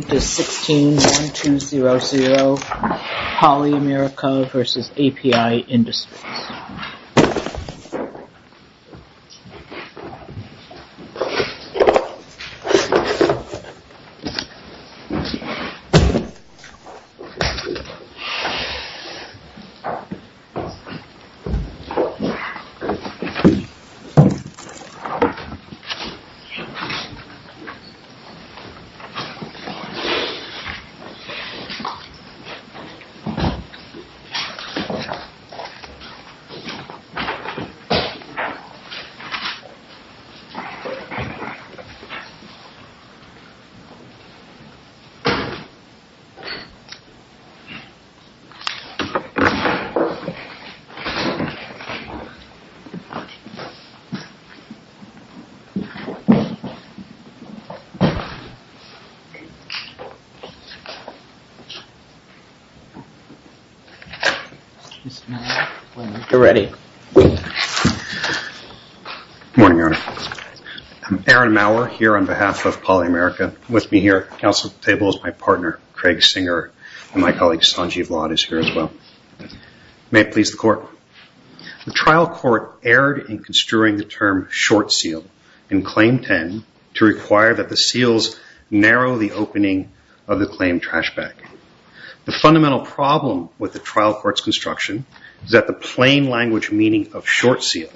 This is 16-1200, Poly-America v. API Industries. This is 16-1200, Poly-America v. API Industries, Inc. Good morning, Your Honor. I'm Aaron Mauer, here on behalf of Poly-America. With me here at the council table is my partner, Craig Singer, and my colleague, Sanjeev Ladd, is here as well. May it please the Court. The trial court erred in construing the term short seal in Claim 10 to require that the seals narrow the opening of the claimed trash bag. The fundamental problem with the trial court's construction is that the plain language meaning of short seal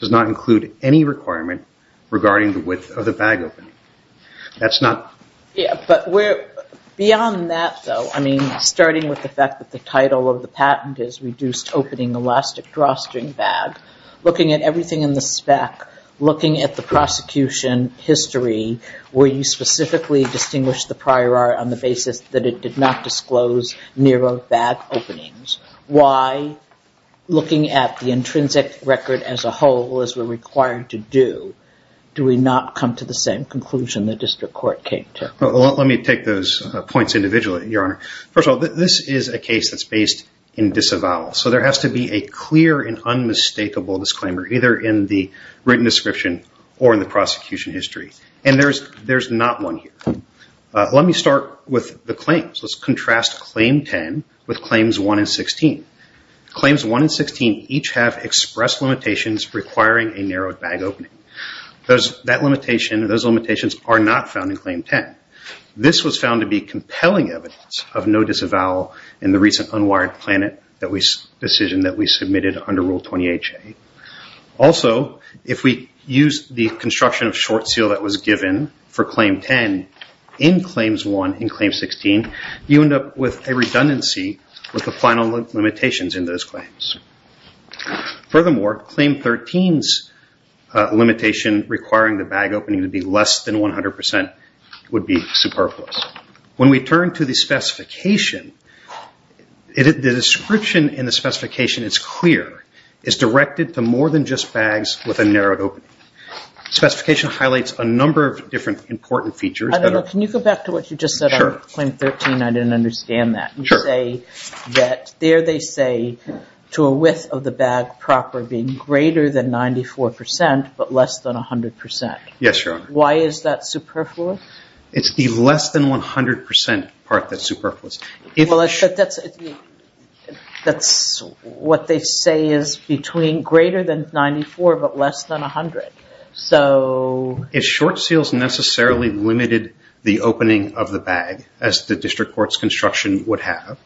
does not include any requirement regarding the width of the bag opening. Beyond that though, starting with the fact that the title of the patent is reduced opening elastic drawstring bag, looking at everything in the spec, looking at the prosecution history, where you specifically distinguish the prior art on the basis that it did not disclose narrow bag openings, why, looking at the intrinsic record as a whole, as we're required to do, do we not come to the same conclusion the district court came to? Let me take those points individually, Your Honor. First of all, this is a case that's based in disavowal. So there has to be a clear and unmistakable disclaimer, either in the written description or in the prosecution history. And there's not one here. Let me start with the claims. Let's contrast Claim 10 with Claims 1 and 16. Claims 1 and 16 each have expressed limitations requiring a narrowed bag opening. Those limitations are not found in Claim 10. This was found to be compelling evidence of no disavowal in the recent unwired decision that we submitted under Rule 20HA. Also, if we use the construction of short seal that was given for Claim 10 in Claims 1 and Claim 16, you end up with a redundancy with the final limitations in those claims. Furthermore, Claim 13's limitation requiring the bag opening to be less than 100% would be superfluous. When we turn to the specification, the description in the specification is clear. It's directed to more than just bags with a narrowed opening. The specification highlights a number of different important features. Can you go back to what you just said on Claim 13? I didn't understand that. You say that there they say to a width of the bag proper being greater than 94% but less than 100%. Yes, Your Honor. Why is that superfluous? It's the less than 100% part that's superfluous. That's what they say is greater than 94% but less than 100%. If short seals necessarily limited the opening of the bag, as the district court's construction would have,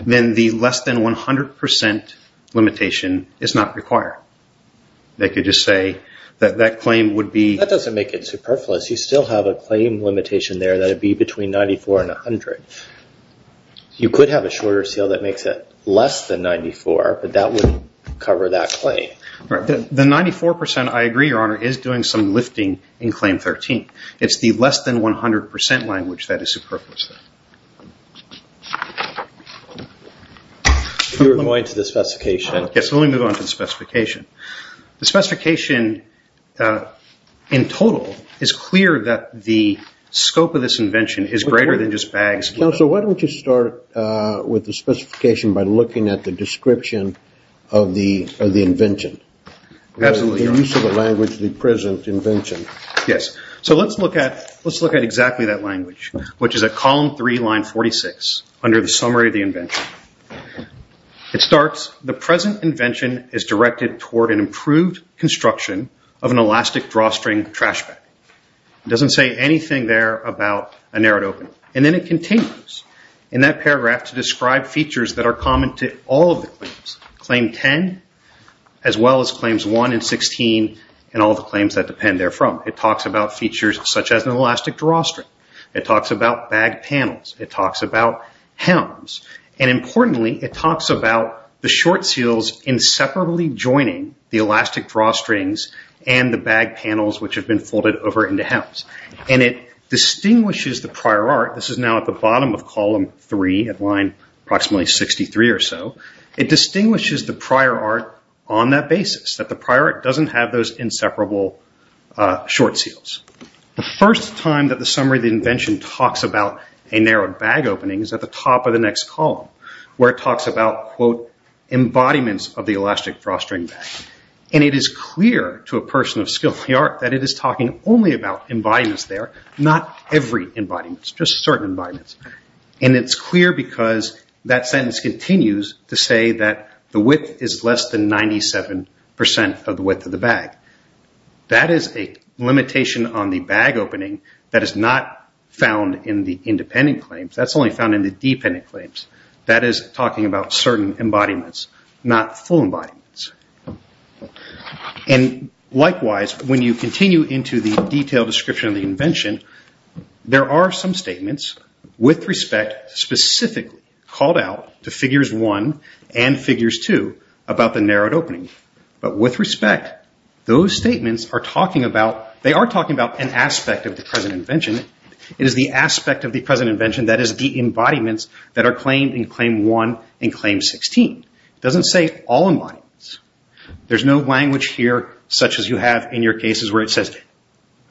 then the less than 100% limitation is not required. They could just say that that claim would be... that it would be between 94% and 100%. You could have a shorter seal that makes it less than 94% but that wouldn't cover that claim. The 94%, I agree, Your Honor, is doing some lifting in Claim 13. It's the less than 100% language that is superfluous. If we were going to the specification... Yes, let me move on to the specification. The specification, in total, is clear that the scope of this invention is greater than just bags. Counsel, why don't you start with the specification by looking at the description of the invention? Absolutely, Your Honor. The use of the language, the present invention. Yes. Let's look at exactly that language, which is at column 3, line 46, under the summary of the invention. It starts, the present invention is directed toward an improved construction of an elastic drawstring trash bag. It doesn't say anything there about a narrowed open. And then it continues in that paragraph to describe features that are common to all of the claims, Claim 10, as well as Claims 1 and 16 and all the claims that depend therefrom. It talks about features such as an elastic drawstring. It talks about bag panels. It talks about helms. And, importantly, it talks about the short seals inseparably joining the elastic drawstrings and the bag panels, which have been folded over into helms. And it distinguishes the prior art. This is now at the bottom of column 3 at line approximately 63 or so. It distinguishes the prior art on that basis, that the prior art doesn't have those inseparable short seals. The first time that the summary of the invention talks about a narrowed bag opening is at the top of the next column, where it talks about, quote, embodiments of the elastic drawstring bag. And it is clear to a person of skilled art that it is talking only about embodiments there, not every embodiment, just certain embodiments. And it's clear because that sentence continues to say that the width is less than 97% of the width of the bag. That is a limitation on the bag opening that is not found in the independent claims. That's only found in the dependent claims. That is talking about certain embodiments, not full embodiments. And, likewise, when you continue into the detailed description of the invention, there are some statements with respect specifically called out to figures 1 and figures 2 about the narrowed opening. But with respect, those statements are talking about an aspect of the present invention. It is the aspect of the present invention that is the embodiments that are claimed in claim 1 and claim 16. It doesn't say all embodiments. There's no language here such as you have in your cases where it says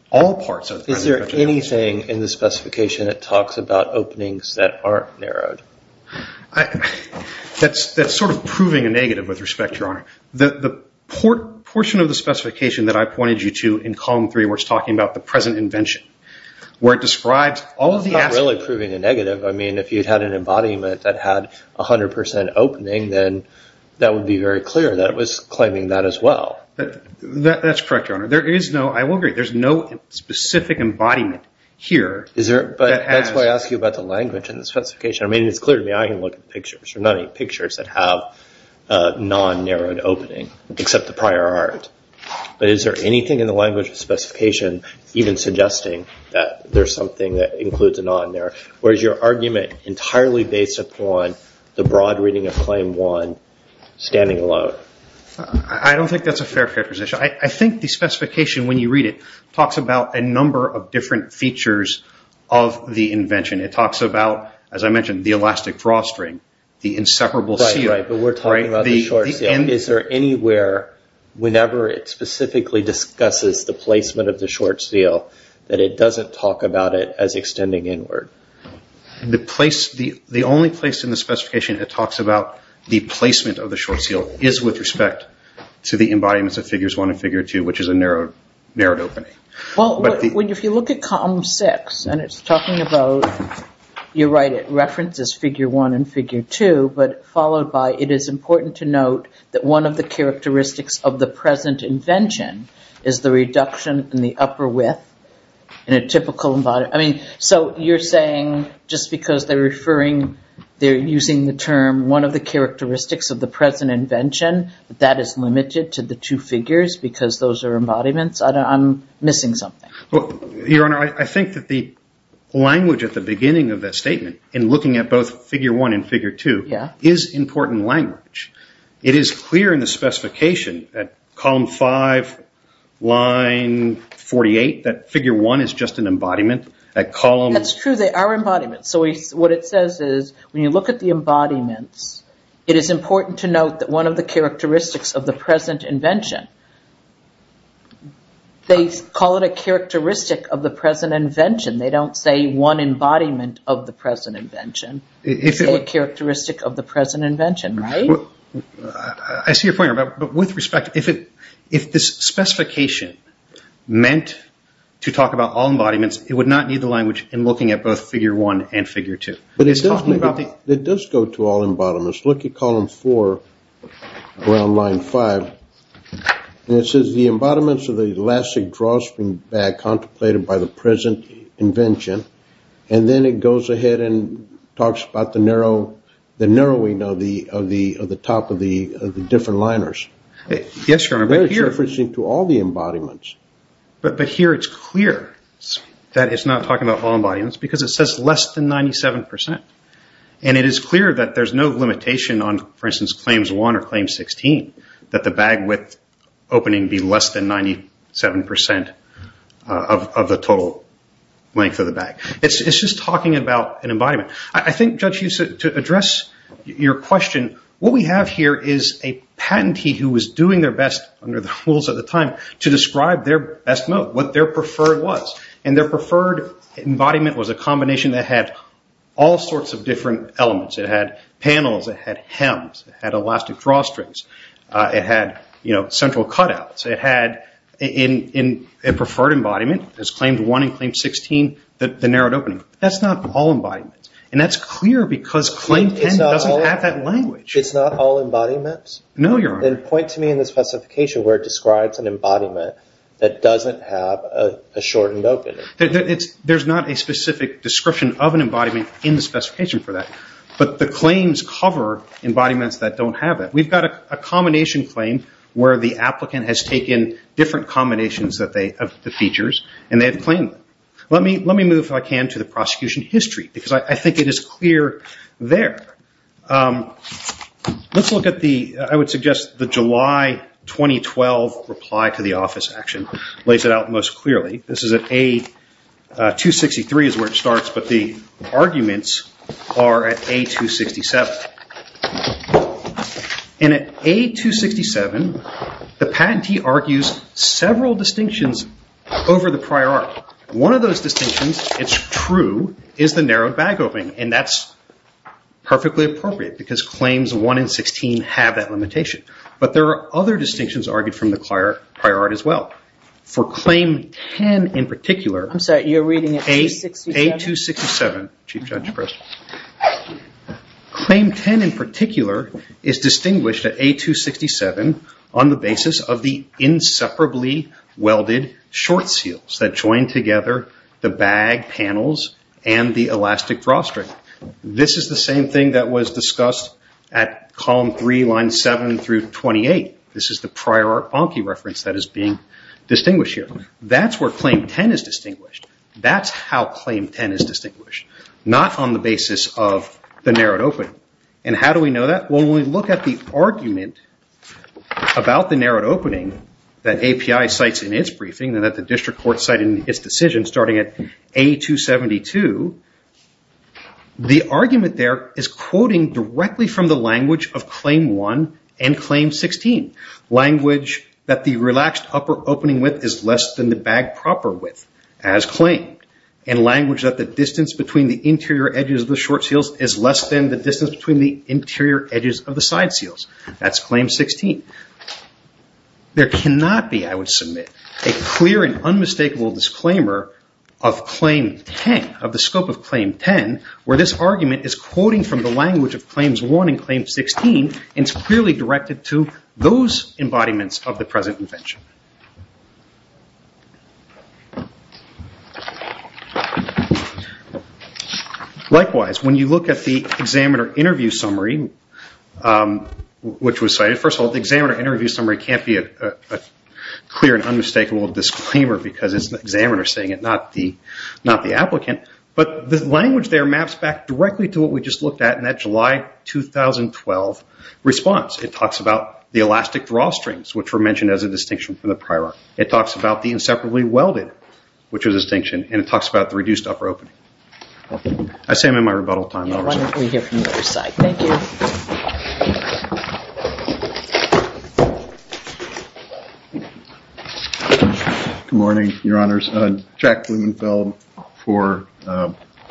all parts of the present invention. Is there anything in the specification that talks about openings that aren't narrowed? The portion of the specification that I pointed you to in column 3 where it's talking about the present invention, where it describes all of the aspects. It's not really proving a negative. I mean, if you had an embodiment that had 100% opening, then that would be very clear that it was claiming that as well. That's correct, Your Honor. There is no, I will agree, there's no specific embodiment here. I mean, it's clear to me I can look at pictures. There are not any pictures that have a non-narrowed opening except the prior art. But is there anything in the language of specification even suggesting that there's something that includes a non-narrow? Or is your argument entirely based upon the broad reading of claim 1 standing alone? I don't think that's a fair proposition. I think the specification, when you read it, talks about a number of different features of the invention. It talks about, as I mentioned, the elastic drawstring, the inseparable seal. Right, right. But we're talking about the short seal. Is there anywhere, whenever it specifically discusses the placement of the short seal, that it doesn't talk about it as extending inward? The only place in the specification it talks about the placement of the short seal is with respect to the embodiments of figures 1 and figure 2, which is a narrowed opening. Well, if you look at column 6, and it's talking about, you're right, it references figure 1 and figure 2, but followed by, it is important to note that one of the characteristics of the present invention is the reduction in the upper width in a typical embodiment. I mean, so you're saying just because they're referring, they're using the term, one of the characteristics of the present invention, that that is limited to the two figures because those are embodiments? I'm missing something. Your Honor, I think that the language at the beginning of that statement, in looking at both figure 1 and figure 2, is important language. It is clear in the specification at column 5, line 48, that figure 1 is just an embodiment. That's true. They are embodiments. So what it says is when you look at the embodiments, it is important to note that one of the characteristics of the present invention, they call it a characteristic of the present invention. They don't say one embodiment of the present invention. They say a characteristic of the present invention, right? I see your point, Your Honor, but with respect, if this specification meant to talk about all embodiments, it would not need the language in looking at both figure 1 and figure 2. It does go to all embodiments. Look at column 4, around line 5. It says the embodiments of the elastic drawstring bag contemplated by the present invention, and then it goes ahead and talks about the narrowing of the top of the different liners. Yes, Your Honor, but here... There is a difference between all the embodiments. But here it's clear that it's not talking about all embodiments because it says less than 97%, and it is clear that there's no limitation on, for instance, claims 1 or claim 16, that the bag width opening be less than 97% of the total length of the bag. It's just talking about an embodiment. I think, Judge, to address your question, what we have here is a patentee who was doing their best under the rules at the time to describe their best mode, what their preferred was, and their preferred embodiment was a combination that had all sorts of different elements. It had panels. It had hems. It had elastic drawstrings. It had central cutouts. It had a preferred embodiment, as claimed 1 and claimed 16, the narrowed opening. That's not all embodiments, and that's clear because claim 10 doesn't have that language. It's not all embodiments? No, Your Honor. Then point to me in the specification where it describes an embodiment that doesn't have a shortened opening. There's not a specific description of an embodiment in the specification for that, but the claims cover embodiments that don't have that. We've got a combination claim where the applicant has taken different combinations of the features, and they have claimed them. Let me move, if I can, to the prosecution history because I think it is clear there. Let's look at the, I would suggest, the July 2012 reply to the office action. It lays it out most clearly. This is at A263 is where it starts, but the arguments are at A267. At A267, the patentee argues several distinctions over the prior article. One of those distinctions, it's true, is the narrowed bag opening, and that's perfectly appropriate because claims 1 and 16 have that limitation. But there are other distinctions argued from the prior art as well. For claim 10 in particular. I'm sorry, you're reading at A267? A267. Chief Judge Pritzker. Claim 10 in particular is distinguished at A267 on the basis of the inseparably welded short seals that join together the bag panels and the elastic drawstring. This is the same thing that was discussed at column 3, line 7 through 28. This is the prior art bonkey reference that is being distinguished here. That's where claim 10 is distinguished. That's how claim 10 is distinguished, not on the basis of the narrowed opening. How do we know that? When we look at the argument about the narrowed opening that API cites in its briefing and that the district court cited in its decision starting at A272, the argument there is quoting directly from the language of claim 1 and claim 16. Language that the relaxed upper opening width is less than the bag proper width, as claimed. And language that the distance between the interior edges of the short seals is less than the distance between the interior edges of the side seals. That's claim 16. There cannot be, I would submit, a clear and unmistakable disclaimer of claim 10, of the scope of claim 10, where this argument is quoting from the language of claims 1 and claim 16 and is clearly directed to those embodiments of the present invention. Likewise, when you look at the examiner interview summary, which was cited, first of all, the examiner interview summary can't be a clear and unmistakable disclaimer because it's the examiner saying it, not the applicant. But the language there maps back directly to what we just looked at in that July 2012 response. It talks about the elastic drawstrings, which were mentioned as a distinction from the prior one. It talks about the inseparably welded, which was a distinction. And it talks about the reduced upper opening. I say I'm in my rebuttal time. Why don't we hear from the other side? Thank you. Good morning, Your Honors. Jack Blumenfeld for the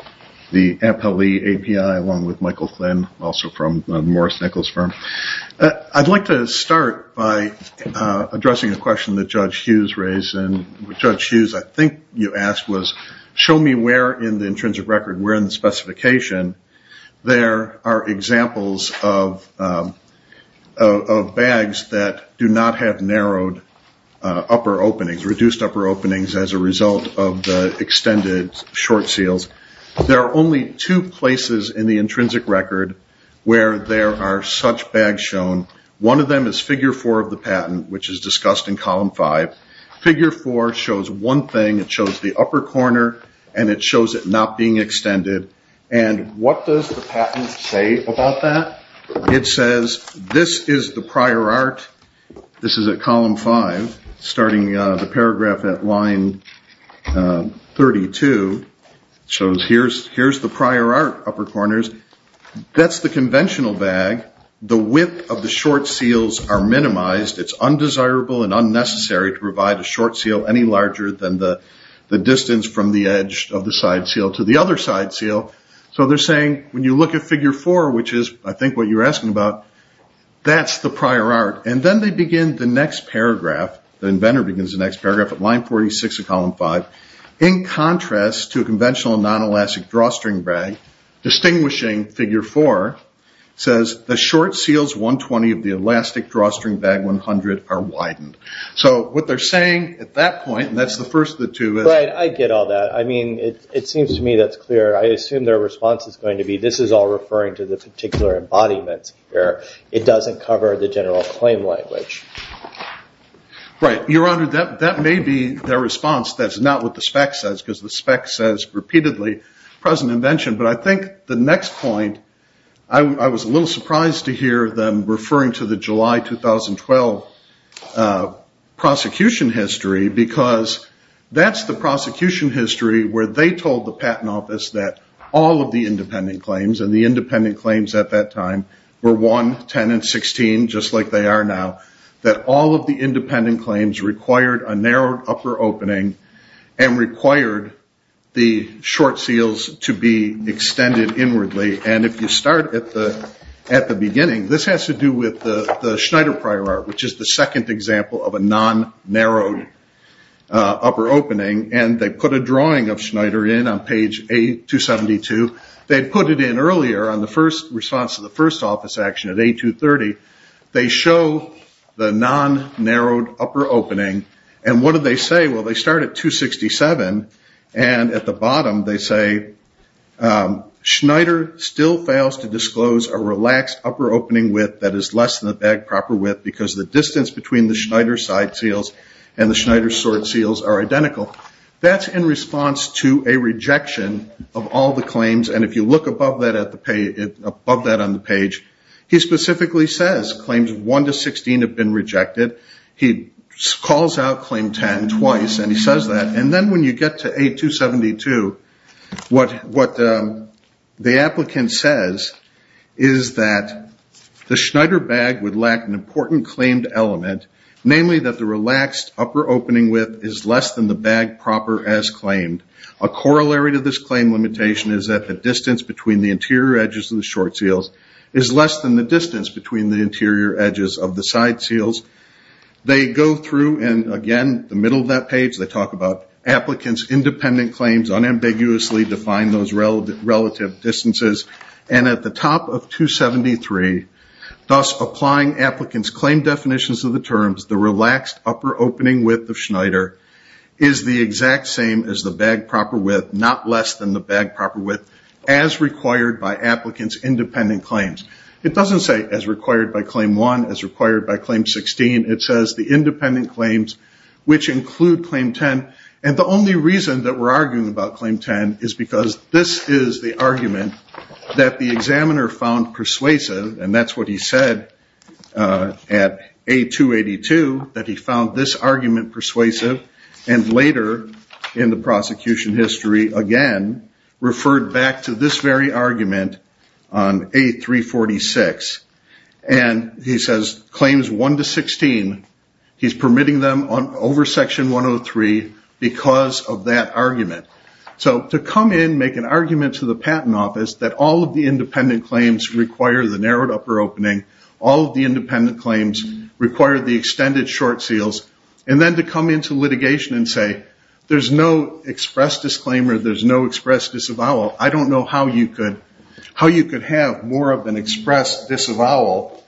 Ampel Lee API, along with Michael Flynn, also from the Morris Nichols firm. I'd like to start by addressing a question that Judge Hughes raised. And what Judge Hughes, I think you asked, was, show me where in the intrinsic record, where in the specification, there are examples of bags that do not have narrowed upper openings, reduced upper openings as a result of the extended short seals. There are only two places in the intrinsic record where there are such bags shown. One of them is Figure 4 of the patent, which is discussed in Column 5. Figure 4 shows one thing. It shows the upper corner, and it shows it not being extended. And what does the patent say about that? It says, this is the prior art. This is at Column 5, starting the paragraph at line 32. It shows here's the prior art upper corners. That's the conventional bag. The width of the short seals are minimized. It's undesirable and unnecessary to provide a short seal any larger than the distance from the edge of the side seal to the other side seal. So they're saying, when you look at Figure 4, which is, I think, what you're asking about, that's the prior art. And then they begin the next paragraph. The inventor begins the next paragraph at line 46 of Column 5. In contrast to a conventional non-elastic drawstring bag, distinguishing Figure 4 says, the short seals 120 of the elastic drawstring bag 100 are widened. So what they're saying at that point, and that's the first of the two. Right, I get all that. I mean, it seems to me that's clear. I assume their response is going to be, this is all referring to the particular embodiment here. It doesn't cover the general claim language. Right. Your Honor, that may be their response. That's not what the spec says, because the spec says repeatedly, present invention. But I think the next point, I was a little surprised to hear them referring to the July 2012 prosecution history, because that's the prosecution history where they told the Patent Office that all of the independent claims, and the independent claims at that time were 1, 10, and 16, just like they are now, that all of the independent claims required a narrowed upper opening and required the short seals to be extended inwardly. And if you start at the beginning, this has to do with the Schneider prior art, which is the second example of a non-narrowed upper opening. And they put a drawing of Schneider in on page A272. They put it in earlier on the first response to the first office action at A230. They show the non-narrowed upper opening. And what do they say? Well, they start at 267, and at the bottom they say, Schneider still fails to disclose a relaxed upper opening width that is less than the bag proper width, because the distance between the Schneider side seals and the Schneider short seals are identical. That's in response to a rejection of all the claims. And if you look above that on the page, he specifically says claims 1 to 16 have been rejected. He calls out claim 10 twice, and he says that. And then when you get to A272, what the applicant says is that the Schneider bag would lack an important claimed element, namely that the relaxed upper opening width is less than the bag proper as claimed. A corollary to this claim limitation is that the distance between the interior edges of the short seals is less than the distance between the interior edges of the side seals. They go through, and again, the middle of that page, they talk about applicants' independent claims, unambiguously define those relative distances. And at the top of 273, thus applying applicants' claim definitions of the terms, the relaxed upper opening width of Schneider is the exact same as the bag proper width, not less than the bag proper width, as required by applicants' independent claims. It doesn't say as required by claim 1, as required by claim 16. It says the independent claims, which include claim 10. And the only reason that we're arguing about claim 10 is because this is the argument that the examiner found persuasive, and that's what he said at A282, that he found this argument persuasive. And later in the prosecution history, again, referred back to this very argument on A346. And he says claims 1 to 16, he's permitting them over section 103 because of that argument. So to come in, make an argument to the patent office that all of the independent claims require the narrowed upper opening, all of the independent claims require the extended short seals, and then to come into litigation and say, there's no express disclaimer, there's no express disavowal, I don't know how you could have more of an express disavowal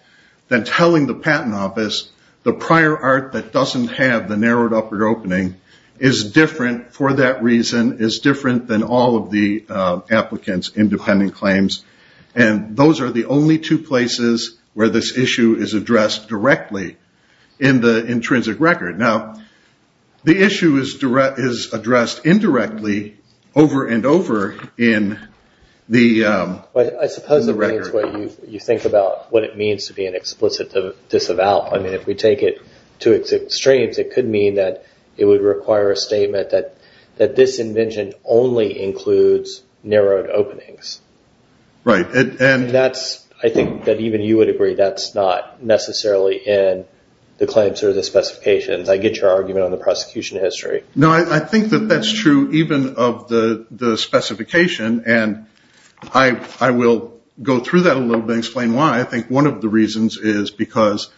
than telling the patent office, the prior art that doesn't have the narrowed upper opening is different for that reason, is different than all of the applicants' independent claims. And those are the only two places where this issue is addressed directly in the intrinsic record. Now, the issue is addressed indirectly over and over in the record. I suppose it depends what you think about what it means to be an explicit disavowal. I mean, if we take it to extremes, it could mean that it would require a statement that this invention only includes narrowed openings. Right. And that's, I think, that even you would agree that's not necessarily in the claims or the specifications. I get your argument on the prosecution history. No, I think that that's true even of the specification. And I will go through that a little bit and explain why. I think one of the reasons is because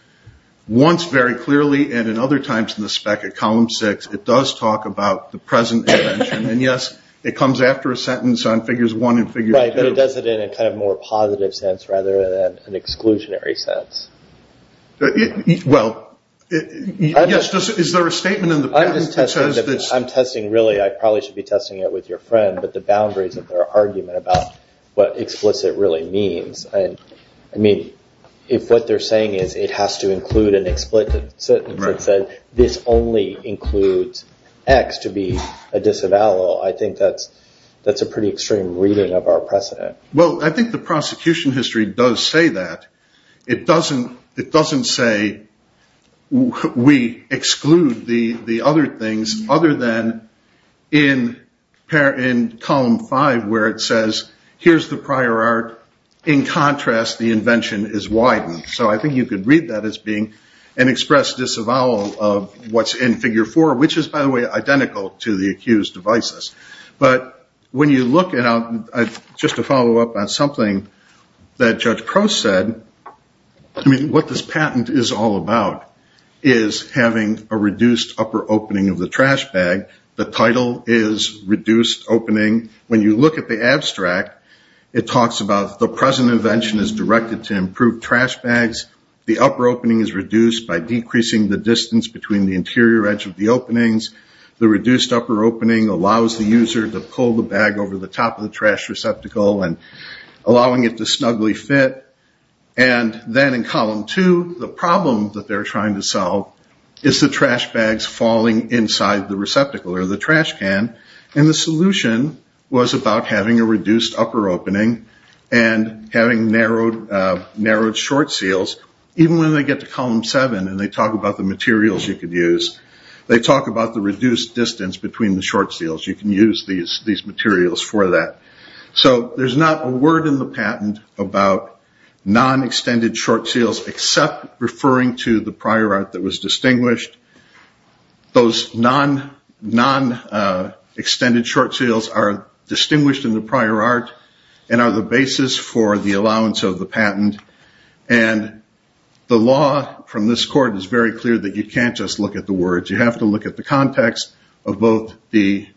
once very clearly and in other times in the spec at column six, it does talk about the present invention. And, yes, it comes after a sentence on figures one and figure two. Right, but it does it in a kind of more positive sense rather than an exclusionary sense. Well, yes, is there a statement in the patent that says this? I'm testing really, I probably should be testing it with your friend, but the boundaries of their argument about what explicit really means. I mean, if what they're saying is it has to include an explicit sentence that says this only includes X to be a disavowal, I think that's a pretty extreme reading of our precedent. Well, I think the prosecution history does say that. It doesn't say we exclude the other things other than in column five where it says here's the prior art. In contrast, the invention is widened. So I think you could read that as being an express disavowal of what's in figure four, which is, by the way, identical to the accused devices. But when you look at it, just to follow up on something that Judge Prost said, I mean, what this patent is all about is having a reduced upper opening of the trash bag. The title is reduced opening. When you look at the abstract, it talks about the present invention is directed to improve trash bags. The upper opening is reduced by decreasing the distance between the interior edge of the openings. The reduced upper opening allows the user to pull the bag over the top of the trash receptacle and allowing it to snugly fit. And then in column two, the problem that they're trying to solve is the trash bags falling inside the receptacle or the trash can. And the solution was about having a reduced upper opening and having narrowed short seals. Even when they get to column seven and they talk about the materials you could use, they talk about the reduced distance between the short seals. You can use these materials for that. So there's not a word in the patent about non-extended short seals except referring to the prior art that was distinguished. Those non-extended short seals are distinguished in the prior art and are the basis for the allowance of the patent. And the law from this court is very clear that you can't just look at the words. You have to look at the context of both the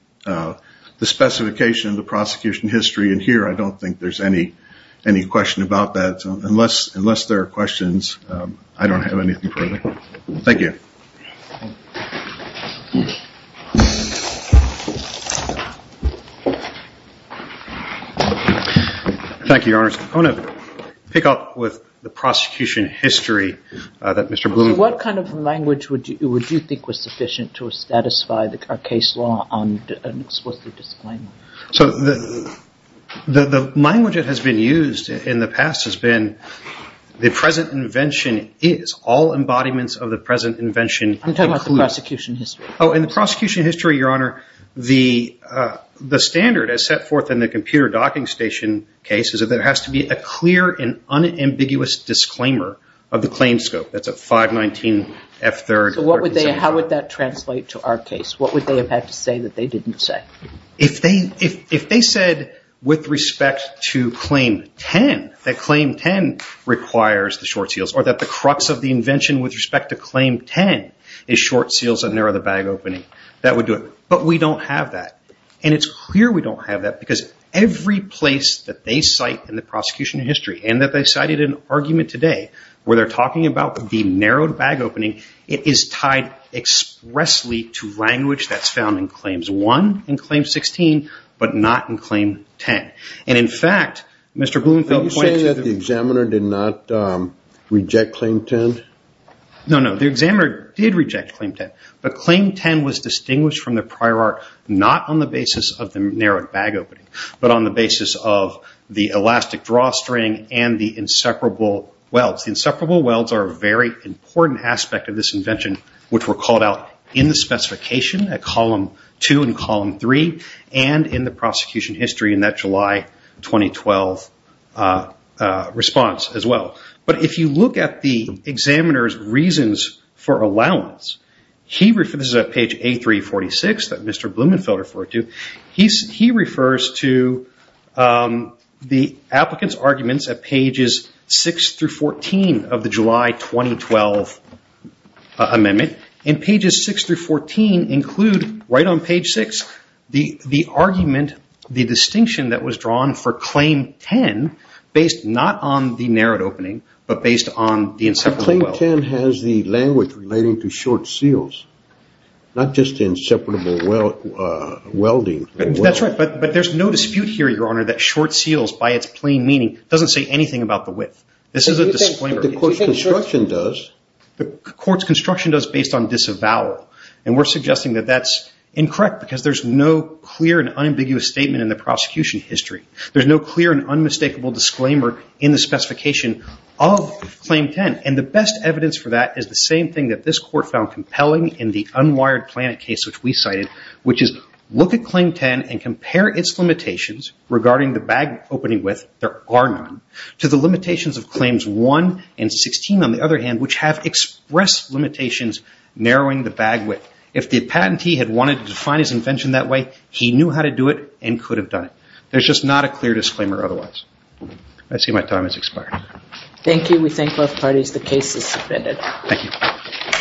specification, the prosecution history, and here I don't think there's any question about that. Unless there are questions, I don't have anything further. Thank you. Thank you, Your Honor. I want to pick up with the prosecution history that Mr. Bloom. What kind of language would you think was sufficient to satisfy our case law on an explicit disclaimer? So the language that has been used in the past has been the present invention is all embodiments of the present invention. I'm talking about the prosecution history. Oh, in the prosecution history, Your Honor, the standard as set forth in the computer docking station case is that there has to be a clear and unambiguous disclaimer of the claim scope. That's a 519F3. So how would that translate to our case? What would they have had to say that they didn't say? If they said with respect to Claim 10, that Claim 10 requires the short seals or that the crux of the invention with respect to Claim 10 is short seals that narrow the bag opening, that would do it. But we don't have that. And it's clear we don't have that because every place that they cite in the prosecution history and that they cited an argument today where they're talking about the narrowed bag opening, it is tied expressly to language that's found in Claims 1 and Claim 16 but not in Claim 10. And, in fact, Mr. Blumenthal points to the – Are you saying that the examiner did not reject Claim 10? No, no. The examiner did reject Claim 10. But Claim 10 was distinguished from the prior art not on the basis of the narrowed bag opening but on the basis of the elastic drawstring and the inseparable welds. The inseparable welds are a very important aspect of this invention which were called out in the specification at Column 2 and Column 3 and in the prosecution history in that July 2012 response as well. But if you look at the examiner's reasons for allowance, this is at page A346 that Mr. Blumenthal referred to, he refers to the applicant's arguments at pages 6 through 14 of the July 2012 amendment. And pages 6 through 14 include, right on page 6, the argument, the distinction that was drawn for Claim 10 based not on the narrowed opening but based on the inseparable weld. But Claim 10 has the language relating to short seals, not just inseparable welding. That's right. But there's no dispute here, Your Honor, that short seals by its plain meaning doesn't say anything about the width. This is a disclaimer. But the court's construction does. The court's construction does based on disavowal. And we're suggesting that that's incorrect because there's no clear and unambiguous statement in the prosecution history. There's no clear and unmistakable disclaimer in the specification of Claim 10. And the best evidence for that is the same thing that this court found compelling in the unwired planet case which we cited, which is look at Claim 10 and compare its limitations regarding the bag opening width, there are none, to the limitations of Claims 1 and 16, on the other hand, which have expressed limitations narrowing the bag width. If the patentee had wanted to define his invention that way, he knew how to do it and could have done it. There's just not a clear disclaimer otherwise. I see my time has expired. Thank you. And we thank both parties. The case is submitted. Thank you.